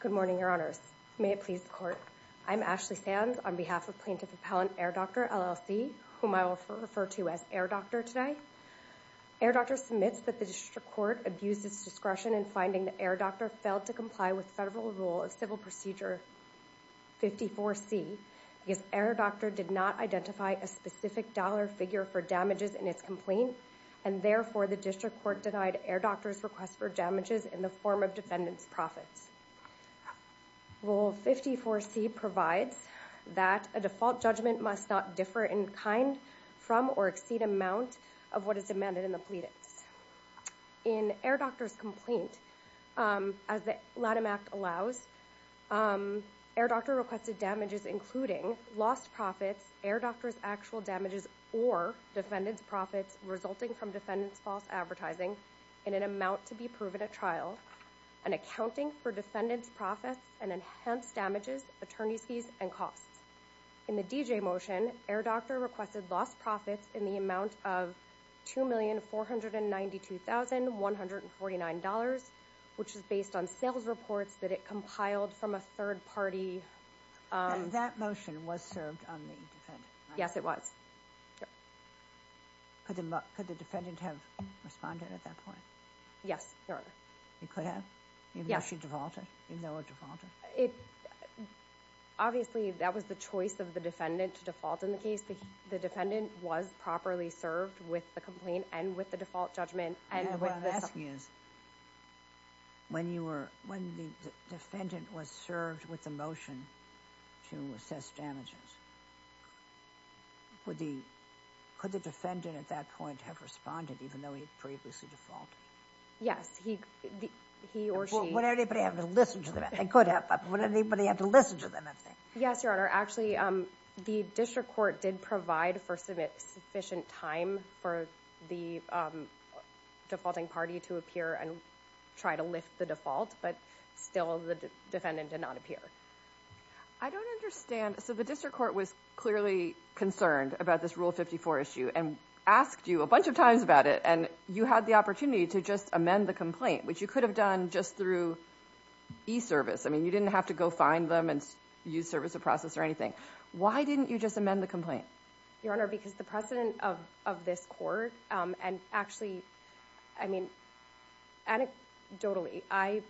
Good morning, Your Honors. May it please the Court. I'm Ashley Sands on behalf of Plaintiff Appellant Airdoctor, LLC, whom I will refer to as Airdoctor today. Airdoctor submits that the District Court abused its discretion in finding that Airdoctor failed to comply with Federal Rule of Civil Procedure 54C because Airdoctor did not identify a specific dollar figure for damages in its complaint, and therefore the District Court denied Airdoctor's request for damages in the form of defendant's profits. Rule 54C provides that a default judgment must not differ in kind from or exceed amount of what is demanded in the pleadings. In Airdoctor's complaint, as the Lanham Act allows, Airdoctor requested damages including lost profits, Airdoctor's actual damages, or defendant's profits resulting from defendant's false advertising in an amount to be proven at trial, and accounting for defendant's profits and enhanced damages, attorney's fees, and costs. In the D.J. motion, Airdoctor requested lost profits in the amount of $2,492,149, which is based on sales reports that it compiled from a third-party... And that motion was served on the defendant? Yes, it was. Could the defendant have responded at that point? Yes, Your Honor. You could have? Yes. Even though she defaulted? Even though it defaulted? Obviously, that was the choice of the defendant to default in the case. The defendant was properly served with the complaint and with the default judgment. What I'm asking is, when the defendant was served with the motion to assess damages, could the defendant at that point have responded even though he had previously defaulted? Yes, he or she... Would anybody have to listen to them if they could have? Would anybody have to listen to them if they... Yes, Your Honor. Actually, the district court did provide for sufficient time for the defaulting party to appear and try to lift the default, but still the defendant did not appear. I don't understand. So the district court was clearly concerned about this Rule 54 issue and asked you a bunch of times about it, and you had the opportunity to just amend the complaint, which you could have done just through e-service. I mean, you didn't have to go find them and use service of process or anything. Why didn't you just amend the complaint? Your Honor, because the precedent of this court, and actually, I mean, anecdotally, I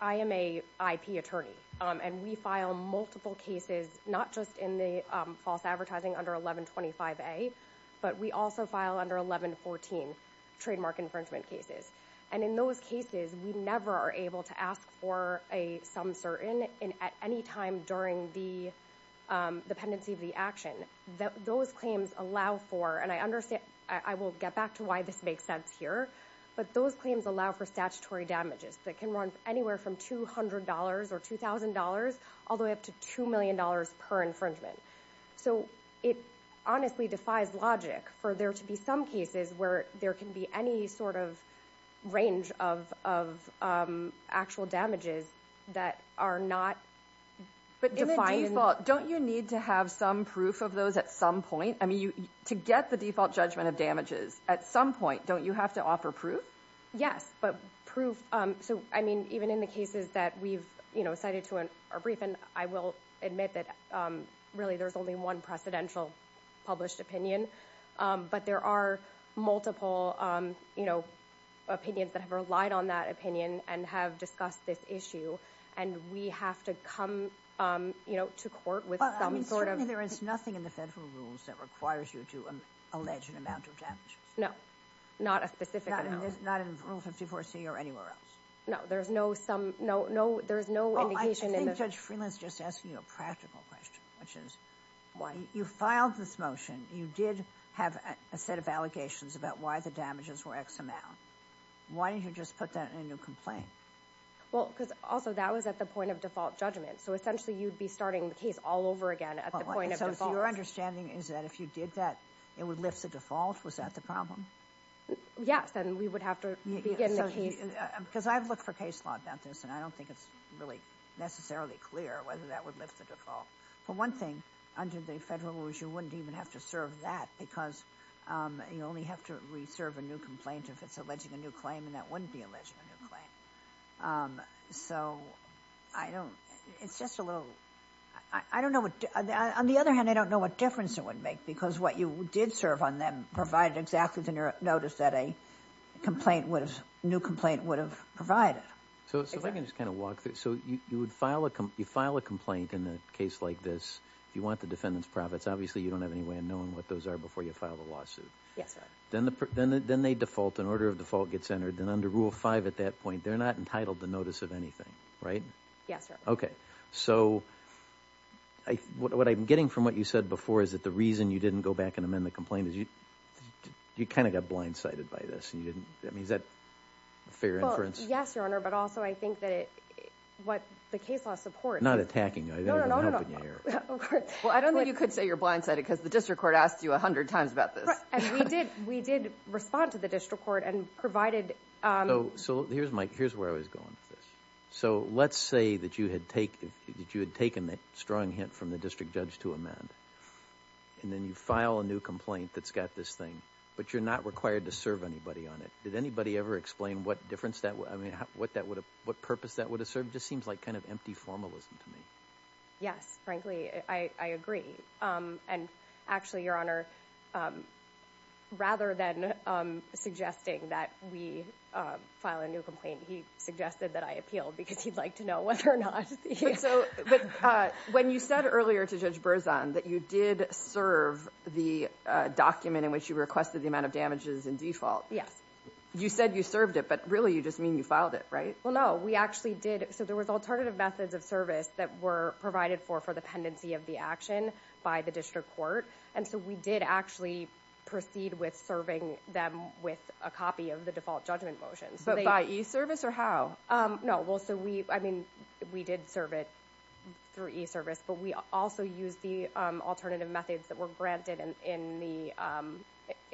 am a IP attorney, and we file multiple cases, not just in the false advertising under 1125A, but we also file under 1114 trademark infringement cases. And in those cases, we never are able to ask for a some certain at any time during the dependency of the action. Those claims allow for, and I understand, I will get back to why this makes sense here, but those claims allow for statutory damages that can run anywhere from $200 or $2,000 all the way up to $2 million per infringement. So it honestly defies logic for there to be some cases where there can be any sort of range of actual damages that are not defined. But in the default, don't you need to have some proof of those at some point? I mean, to get the default judgment of damages at some point, don't you have to offer proof? Yes, but proof, so I mean, even in the cases that we've cited to our brief, and I will admit that really there's only one precedential published opinion. But there are multiple opinions that have relied on that opinion and have discussed this issue, and we have to come to court with some sort of... Well, I mean, certainly there is nothing in the federal rules that requires you to allege an amount of damages. No, not a specific amount. Not in Rule 54c or anywhere else? No, there's no indication in the... Well, I think Judge Freeland's just asking you a practical question, which is, you filed this motion, you did have a set of allegations about why the damages were X amount. Why didn't you just put that in a new complaint? Well, because also that was at the point of default judgment, so essentially you'd be starting the case all over again at the point of default. So your understanding is that if you did that, it would lift the default? Was that the problem? Yes, then we would have to begin the case. Because I've looked for case law about this, and I don't think it's really necessarily clear whether that would lift the default. But one thing, under the federal rules, you wouldn't even have to serve that because you only have to reserve a new complaint if it's alleging a new claim, and that wouldn't be alleging a new claim. So I don't... It's just a little... I don't know what... On the other hand, I don't know what difference it would make, because what you did serve on them provided exactly the notice that a complaint would have... new complaint would have provided. So if I can just kind of walk through... So you would file a complaint in a case like this. You want the defendant's profits. Obviously, you don't have any way of knowing what those are before you file the lawsuit. Yes, sir. Then they default. An order of default gets entered. Then under Rule 5 at that point, they're not entitled to notice of anything, right? Yes, sir. Okay. So what I'm getting from what you said before is that the reason you didn't go back and amend the complaint is you kind of got blindsided by this, and you didn't... I mean, is that a fair inference? Well, yes, Your Honor, but also I think that what the case law supports... I'm not attacking you. I'm just helping you here. Well, I don't think you could say you're blindsided because the district court asked you a hundred times about this. And we did respond to the district court and provided... So here's where I was going with this. So let's say that you had taken a strong hint from the district judge to amend, and then you file a new complaint that's got this thing, but you're not required to serve anybody on it. Did anybody ever explain what difference that... I mean, what purpose that would have served? It just seems like kind of empty formalism to me. Yes, frankly, I agree. And actually, Your Honor, rather than suggesting that we file a new complaint, he suggested that I appeal because he'd like to know whether or not... But when you said earlier to Judge Berzon that you did serve the document in which you requested the amount of damages in default... Yes. You said you served it, but really you just mean you filed it, right? Well, no. We actually did. So there was alternative methods of service that were provided for for the pendency of the action by the district court. And so we did actually proceed with serving them with a copy of the default judgment motion. But by e-service or how? No. Well, so we... I mean, we did serve it through e-service, but we also used the alternative methods that were granted in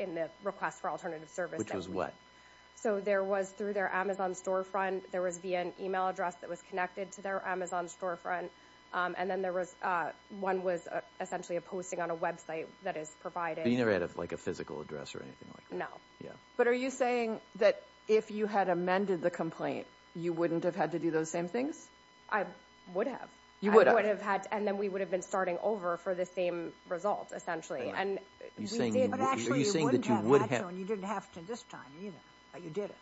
the request for alternative service. Which was what? So there was through their Amazon storefront. There was via an email address that was connected to their Amazon storefront. And then there was... One was essentially a posting on a website that is provided... But you never had like a physical address or anything like that? No. Yeah. But are you saying that if you had amended the complaint, you wouldn't have had to do those same things? I would have. You would have. I would have had... And then we would have been starting over for the same result, essentially. But actually, you wouldn't have had to and you didn't have to this time either. But you did it.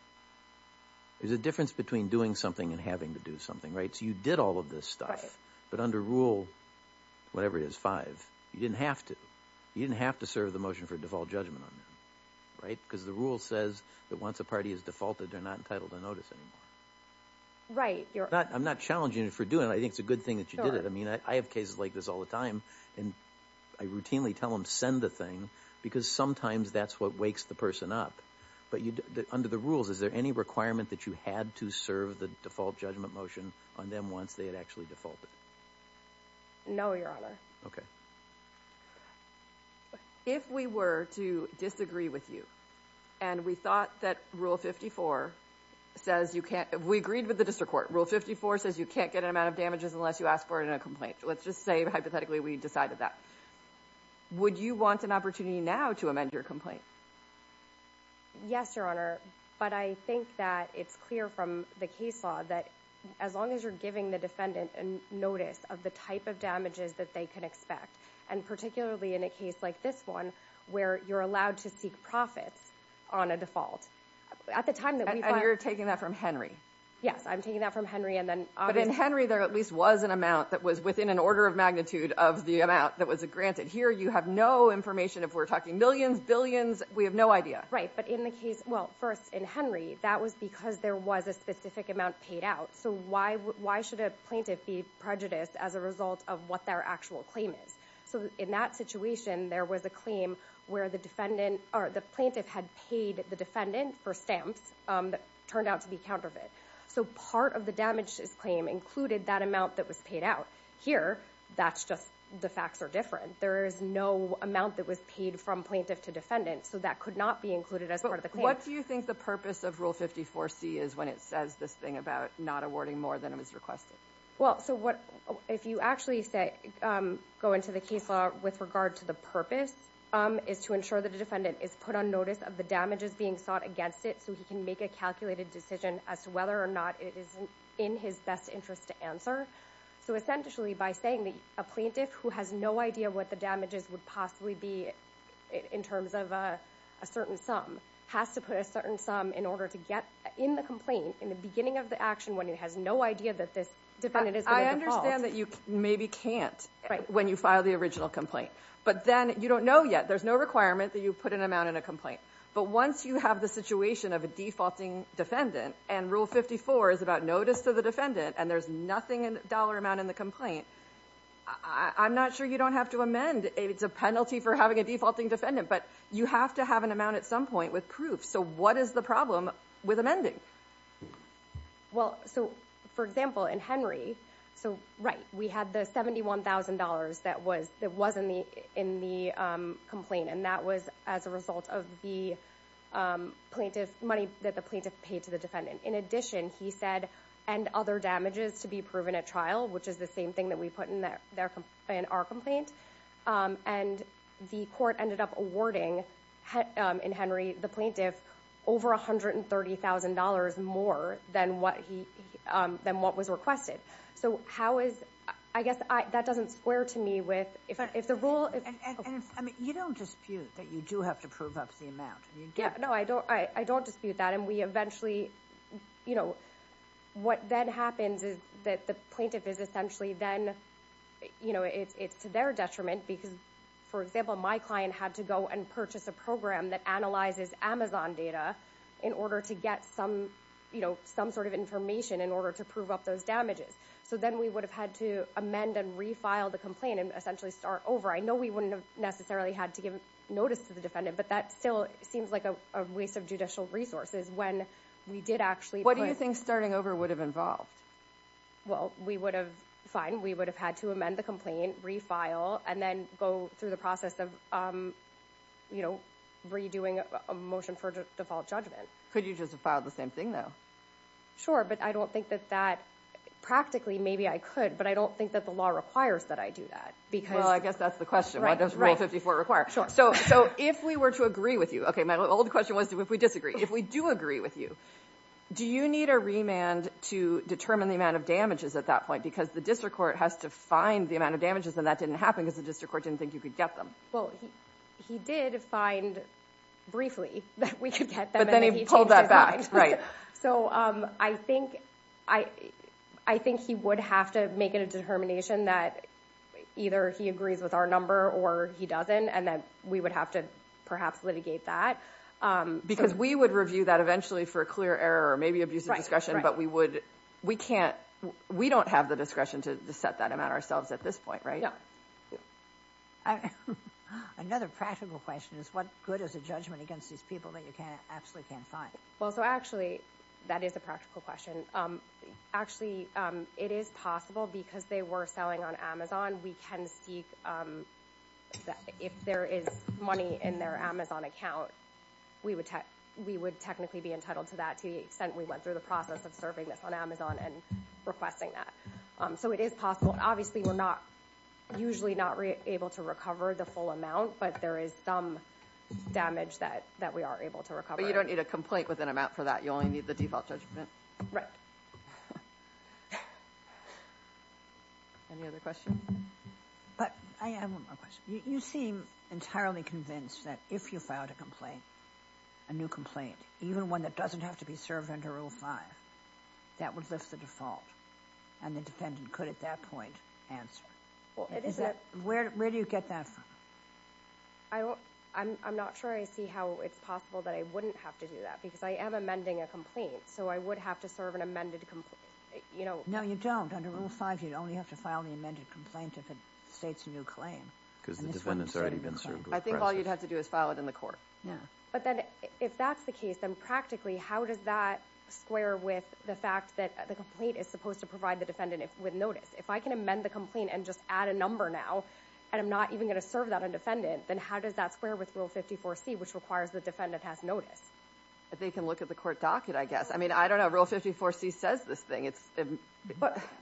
There's a difference between doing something and having to do something, right? So you did all of this stuff. Right. But under rule, whatever it is, five, you didn't have to. You didn't have to serve the motion for default judgment on them, right? Because the rule says that once a party is defaulted, they're not entitled to notice anymore. Right. I'm not challenging you for doing it. I think it's a good thing that you did it. I mean, I have cases like this all the time and I routinely tell them send the thing because sometimes that's what wakes the person up. But under the rules, is there any requirement that you had to serve the default judgment motion on them once they had actually defaulted? No, Your Honor. Okay. If we were to disagree with you and we thought that rule 54 says you can't, we agreed with the district court, rule 54 says you can't get an amount of damages unless you ask for it in a complaint. Let's just say hypothetically we decided that. Would you want an opportunity now to amend your complaint? Yes, Your Honor. But I think that it's clear from the case law that as long as you're giving the defendant a notice of the type of damages that they can expect, and particularly in a case like this one where you're allowed to seek profits on a default, at the time that we find – And you're taking that from Henry? Yes, I'm taking that from Henry and then – But in Henry, there at least was an amount that was within an order of magnitude of the amount that was granted. Here, you have no information. If we're talking millions, billions, we have no idea. Right, but in the case – well, first, in Henry, that was because there was a specific amount paid out. So why should a plaintiff be prejudiced as a result of what their actual claim is? So in that situation, there was a claim where the plaintiff had paid the defendant for stamps that turned out to be counterfeit. So part of the damages claim included that amount that was paid out. Here, that's just – the facts are different. There is no amount that was paid from plaintiff to defendant, so that could not be included as part of the claim. But what do you think the purpose of Rule 54C is when it says this thing about not awarding more than it was requested? Well, so what – if you actually go into the case law with regard to the purpose, it's to ensure that the defendant is put on notice of the damages being sought against it so he can make a calculated decision as to whether or not it is in his best interest to answer. So essentially, by saying that a plaintiff who has no idea what the damages would possibly be in terms of a certain sum has to put a certain sum in order to get in the complaint in the beginning of the action when he has no idea that this defendant is going to default. I understand that you maybe can't when you file the original complaint. But then you don't know yet. There's no requirement that you put an amount in a complaint. But once you have the situation of a defaulting defendant and Rule 54 is about notice to the defendant and there's nothing in the dollar amount in the complaint, I'm not sure you don't have to amend. It's a penalty for having a defaulting defendant. But you have to have an amount at some point with proof. So what is the problem with amending? Well, so, for example, in Henry – so, right, we had the $71,000 that was in the complaint. And that was as a result of the plaintiff – money that the plaintiff paid to the defendant. In addition, he said, and other damages to be proven at trial, which is the same thing that we put in our complaint. And the court ended up awarding, in Henry, the plaintiff over $130,000 more than what was requested. So how is – I guess that doesn't square to me with – if the rule – And you don't dispute that you do have to prove up the amount. Yeah, no, I don't dispute that. And we eventually – what then happens is that the plaintiff is essentially then – it's to their detriment because, for example, my client had to go and purchase a program that analyzes Amazon data in order to get some sort of information in order to prove up those damages. So then we would have had to amend and refile the complaint and essentially start over. I know we wouldn't have necessarily had to give notice to the defendant, but that still seems like a waste of judicial resources when we did actually – What do you think starting over would have involved? Well, we would have – fine, we would have had to amend the complaint, refile, and then go through the process of, you know, redoing a motion for default judgment. Could you just have filed the same thing, though? Sure, but I don't think that that – practically, maybe I could, but I don't think that the law requires that I do that because – Well, I guess that's the question. What does Rule 54 require? Sure. So if we were to agree with you – okay, my old question was if we disagree. If we do agree with you, do you need a remand to determine the amount of damages at that point? Because the district court has to find the amount of damages, and that didn't happen because the district court didn't think you could get them. Well, he did find briefly that we could get them, and then he changed his mind. But then he pulled that back, right. So I think he would have to make a determination that either he agrees with our number or he doesn't, and that we would have to perhaps litigate that. Because we would review that eventually for a clear error or maybe abusive discretion, but we would – we can't – we don't have the discretion to set that amount ourselves at this point, right? Yeah. Another practical question is what good is a judgment against these people that you absolutely can't find? Well, so actually – that is a practical question. Actually, it is possible because they were selling on Amazon. We can seek – if there is money in their Amazon account, we would technically be entitled to that to the extent we went through the process of serving this on Amazon and requesting that. So it is possible. Obviously, we're not – usually not able to recover the full amount, but there is some damage that we are able to recover. But you don't need a complaint with an amount for that. You only need the default judgment. Any other questions? But I have one more question. You seem entirely convinced that if you filed a complaint, a new complaint, even one that doesn't have to be served under Rule 5, that would lift the default, and the defendant could at that point answer. Well, it is – Where do you get that from? I'm not sure I see how it's possible that I wouldn't have to do that because I am amending a complaint, so I would have to serve an amended complaint. No, you don't. Under Rule 5, you'd only have to file the amended complaint if it states a new claim. Because the defendant's already been served with the process. I think all you'd have to do is file it in the court. But then if that's the case, then practically how does that square with the fact that the complaint is supposed to provide the defendant with notice? If I can amend the complaint and just add a number now, and I'm not even going to serve that on defendant, then how does that square with Rule 54C, which requires the defendant has notice? They can look at the court docket, I guess. I mean, I don't know. Rule 54C says this thing.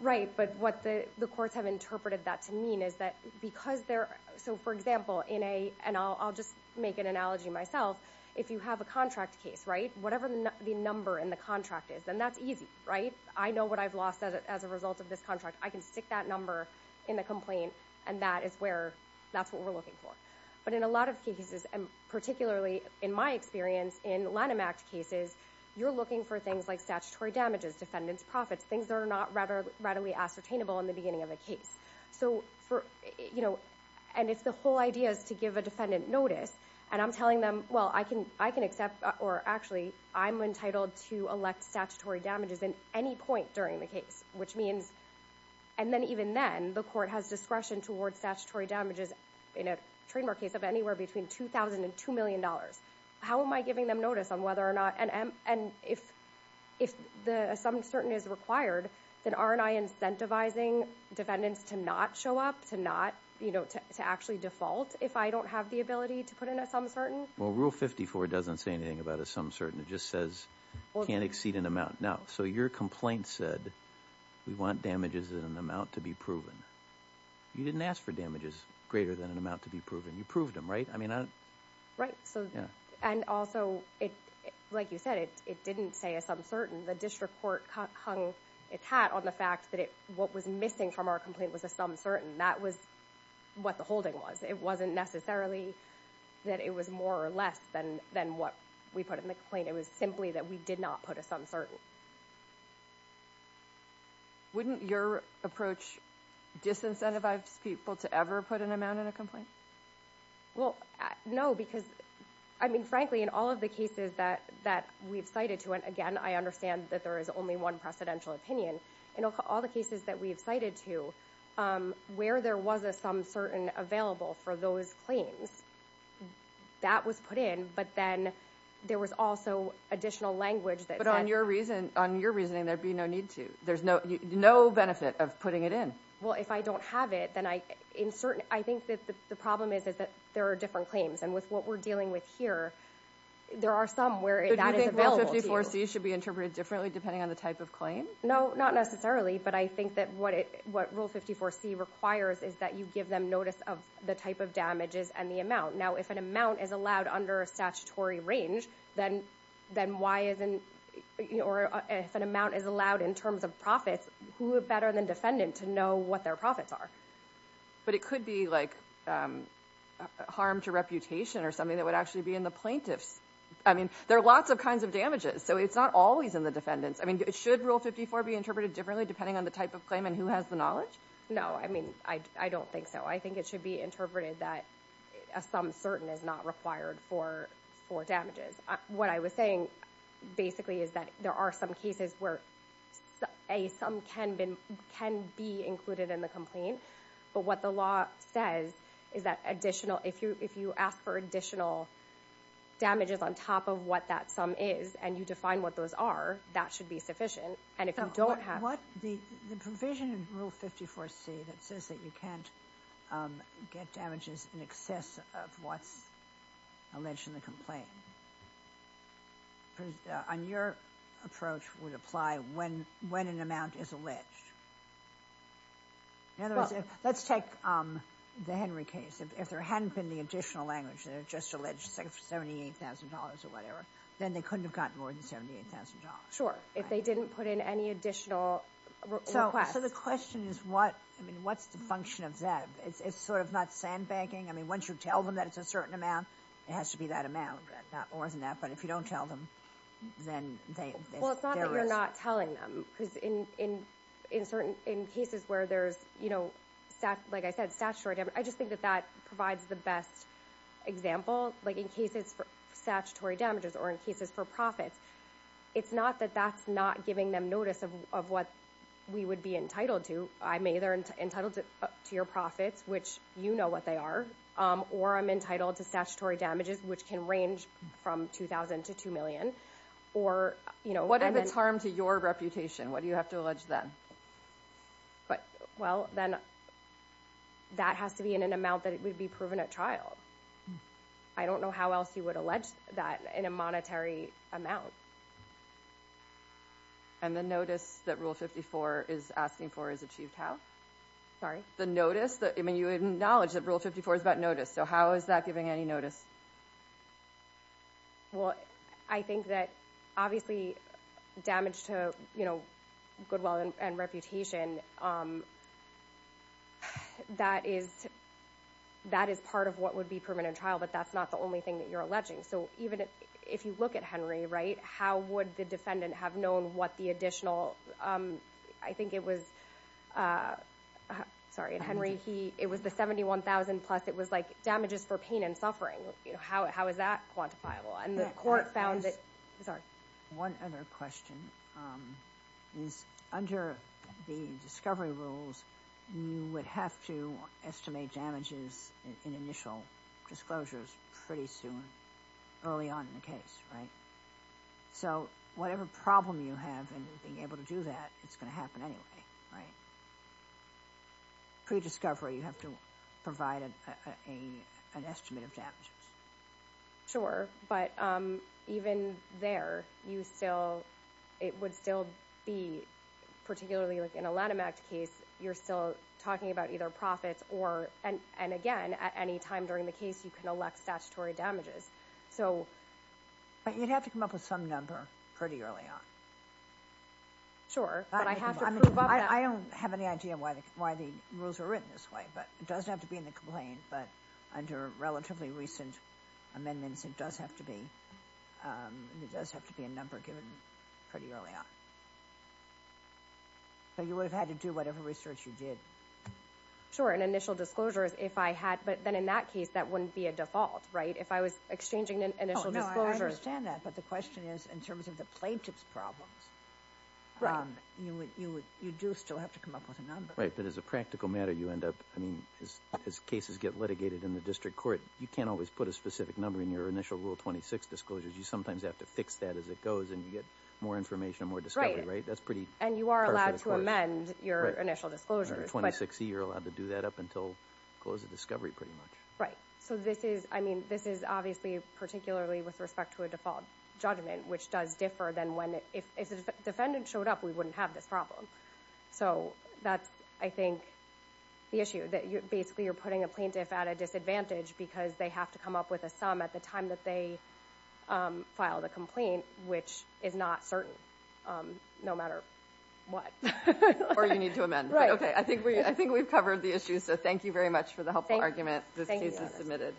Right, but what the courts have interpreted that to mean is that because they're – so, for example, in a – and I'll just make an analogy myself. If you have a contract case, right, whatever the number in the contract is, then that's easy, right? I know what I've lost as a result of this contract. I can stick that number in the complaint, and that is where – that's what we're looking for. But in a lot of cases, and particularly in my experience in Lanham Act cases, you're looking for things like statutory damages, defendant's profits, things that are not readily ascertainable in the beginning of a case. So for – and it's the whole idea is to give a defendant notice, and I'm telling them, well, I can accept – or actually, I'm entitled to elect statutory damages in any point during the case, which means – and then even then, the court has discretion towards statutory damages in a trademark case of anywhere between $2,000 and $2 million. How am I giving them notice on whether or not – and if the assumption is required, then aren't I incentivizing defendants to not show up, to not – you know, to actually default if I don't have the ability to put in an assumption? Well, Rule 54 doesn't say anything about a sum certain. It just says can't exceed an amount. Now, so your complaint said we want damages in an amount to be proven. You didn't ask for damages greater than an amount to be proven. You proved them, right? I mean – Right, so – and also, like you said, it didn't say a sum certain. The district court hung its hat on the fact that what was missing from our complaint was a sum certain. That was what the holding was. It wasn't necessarily that it was more or less than what we put in the complaint. It was simply that we did not put a sum certain. Wouldn't your approach disincentivize people to ever put an amount in a complaint? Well, no, because – I mean, frankly, in all of the cases that we've cited to – and, again, I understand that there is only one precedential opinion. In all the cases that we've cited to, where there was a sum certain available for those claims, that was put in. But then there was also additional language that said – But on your reasoning, there'd be no need to. There's no benefit of putting it in. Well, if I don't have it, then I – I think that the problem is that there are different claims. And with what we're dealing with here, there are some where that is available to you. But you think Rule 54c should be interpreted differently depending on the type of claim? No, not necessarily. But I think that what Rule 54c requires is that you give them notice of the type of damages and the amount. Now, if an amount is allowed under a statutory range, then why isn't – or if an amount is allowed in terms of profits, who better than defendant to know what their profits are? But it could be, like, harm to reputation or something that would actually be in the plaintiffs. I mean, there are lots of kinds of damages. So it's not always in the defendants. I mean, should Rule 54 be interpreted differently depending on the type of claim and who has the knowledge? No, I mean, I don't think so. I think it should be interpreted that a sum certain is not required for damages. What I was saying basically is that there are some cases where a sum can be included in the complaint. But what the law says is that additional – if you ask for additional damages on top of what that sum is and you define what those are, that should be sufficient. And if you don't have – Now, what – the provision in Rule 54c that says that you can't get damages in excess of what's alleged in the complaint, on your approach, would apply when an amount is alleged. In other words, let's take the Henry case. If there hadn't been the additional language that it just alleged $78,000 or whatever, then they couldn't have gotten more than $78,000. If they didn't put in any additional request. So the question is what – I mean, what's the function of that? It's sort of not sandbagging? I mean, once you tell them that it's a certain amount, it has to be that amount, not more than that. But if you don't tell them, then they – Well, it's not that you're not telling them, because in certain – in cases where there's, you know, like I said, statutory damage, I just think that that provides the best example. Like in cases for statutory damages or in cases for profits, it's not that that's not giving them notice of what we would be entitled to. I'm either entitled to your profits, which you know what they are, or I'm entitled to statutory damages, which can range from $2,000 to $2 million, or – What if it's harm to your reputation? What do you have to allege then? Well, then that has to be in an amount that would be proven at trial. I don't know how else you would allege that in a monetary amount. And the notice that Rule 54 is asking for is achieved how? Sorry? The notice that – I mean, you acknowledge that Rule 54 is about notice, so how is that giving any notice? Well, I think that obviously damage to, you know, goodwill and reputation, that is part of what would be proven at trial, but that's not the only thing that you're alleging. So even if you look at Henry, right, how would the defendant have known what the additional – I think it was – sorry, Henry, it was the $71,000 plus, it was like damages for pain and suffering. How is that quantifiable? And the court found that – Sorry. One other question is under the discovery rules, you would have to estimate damages in initial disclosures pretty soon, early on in the case, right? So whatever problem you have in being able to do that, it's going to happen anyway, right? Pre-discovery, you have to provide an estimate of damages. Sure, but even there, you still – it would still be particularly like in a Lanham Act case, you're still talking about either profits or – and again, at any time during the case, you can elect statutory damages. So – But you'd have to come up with some number pretty early on. Sure, but I have to prove up that – I don't have any idea why the rules are written this way, but it doesn't have to be in the complaint, but under relatively recent amendments, it does have to be a number given pretty early on. So you would have had to do whatever research you did. Sure, and initial disclosures, if I had – but then in that case, that wouldn't be a default, right? If I was exchanging initial disclosures – No, I understand that, but the question is in terms of the plaintiff's problems, you do still have to come up with a number. Right, but as a practical matter, you end up – as cases get litigated in the district court, you can't always put a specific number in your initial Rule 26 disclosures. You sometimes have to fix that as it goes, and you get more information, more discovery, right? That's pretty – And you are allowed to amend your initial disclosures, but – Under 26E, you're allowed to do that up until close of discovery, pretty much. Right. So this is – I mean, this is obviously particularly with respect to a default judgment, which does differ than when – if a defendant showed up, we wouldn't have this problem. So that's, I think, the issue. Basically, you're putting a plaintiff at a disadvantage because they have to come up with a sum at the time that they filed a complaint, which is not certain, no matter what. Or you need to amend. Right. Okay, I think we've covered the issue, so thank you very much for the helpful argument. Thank you. This case is submitted.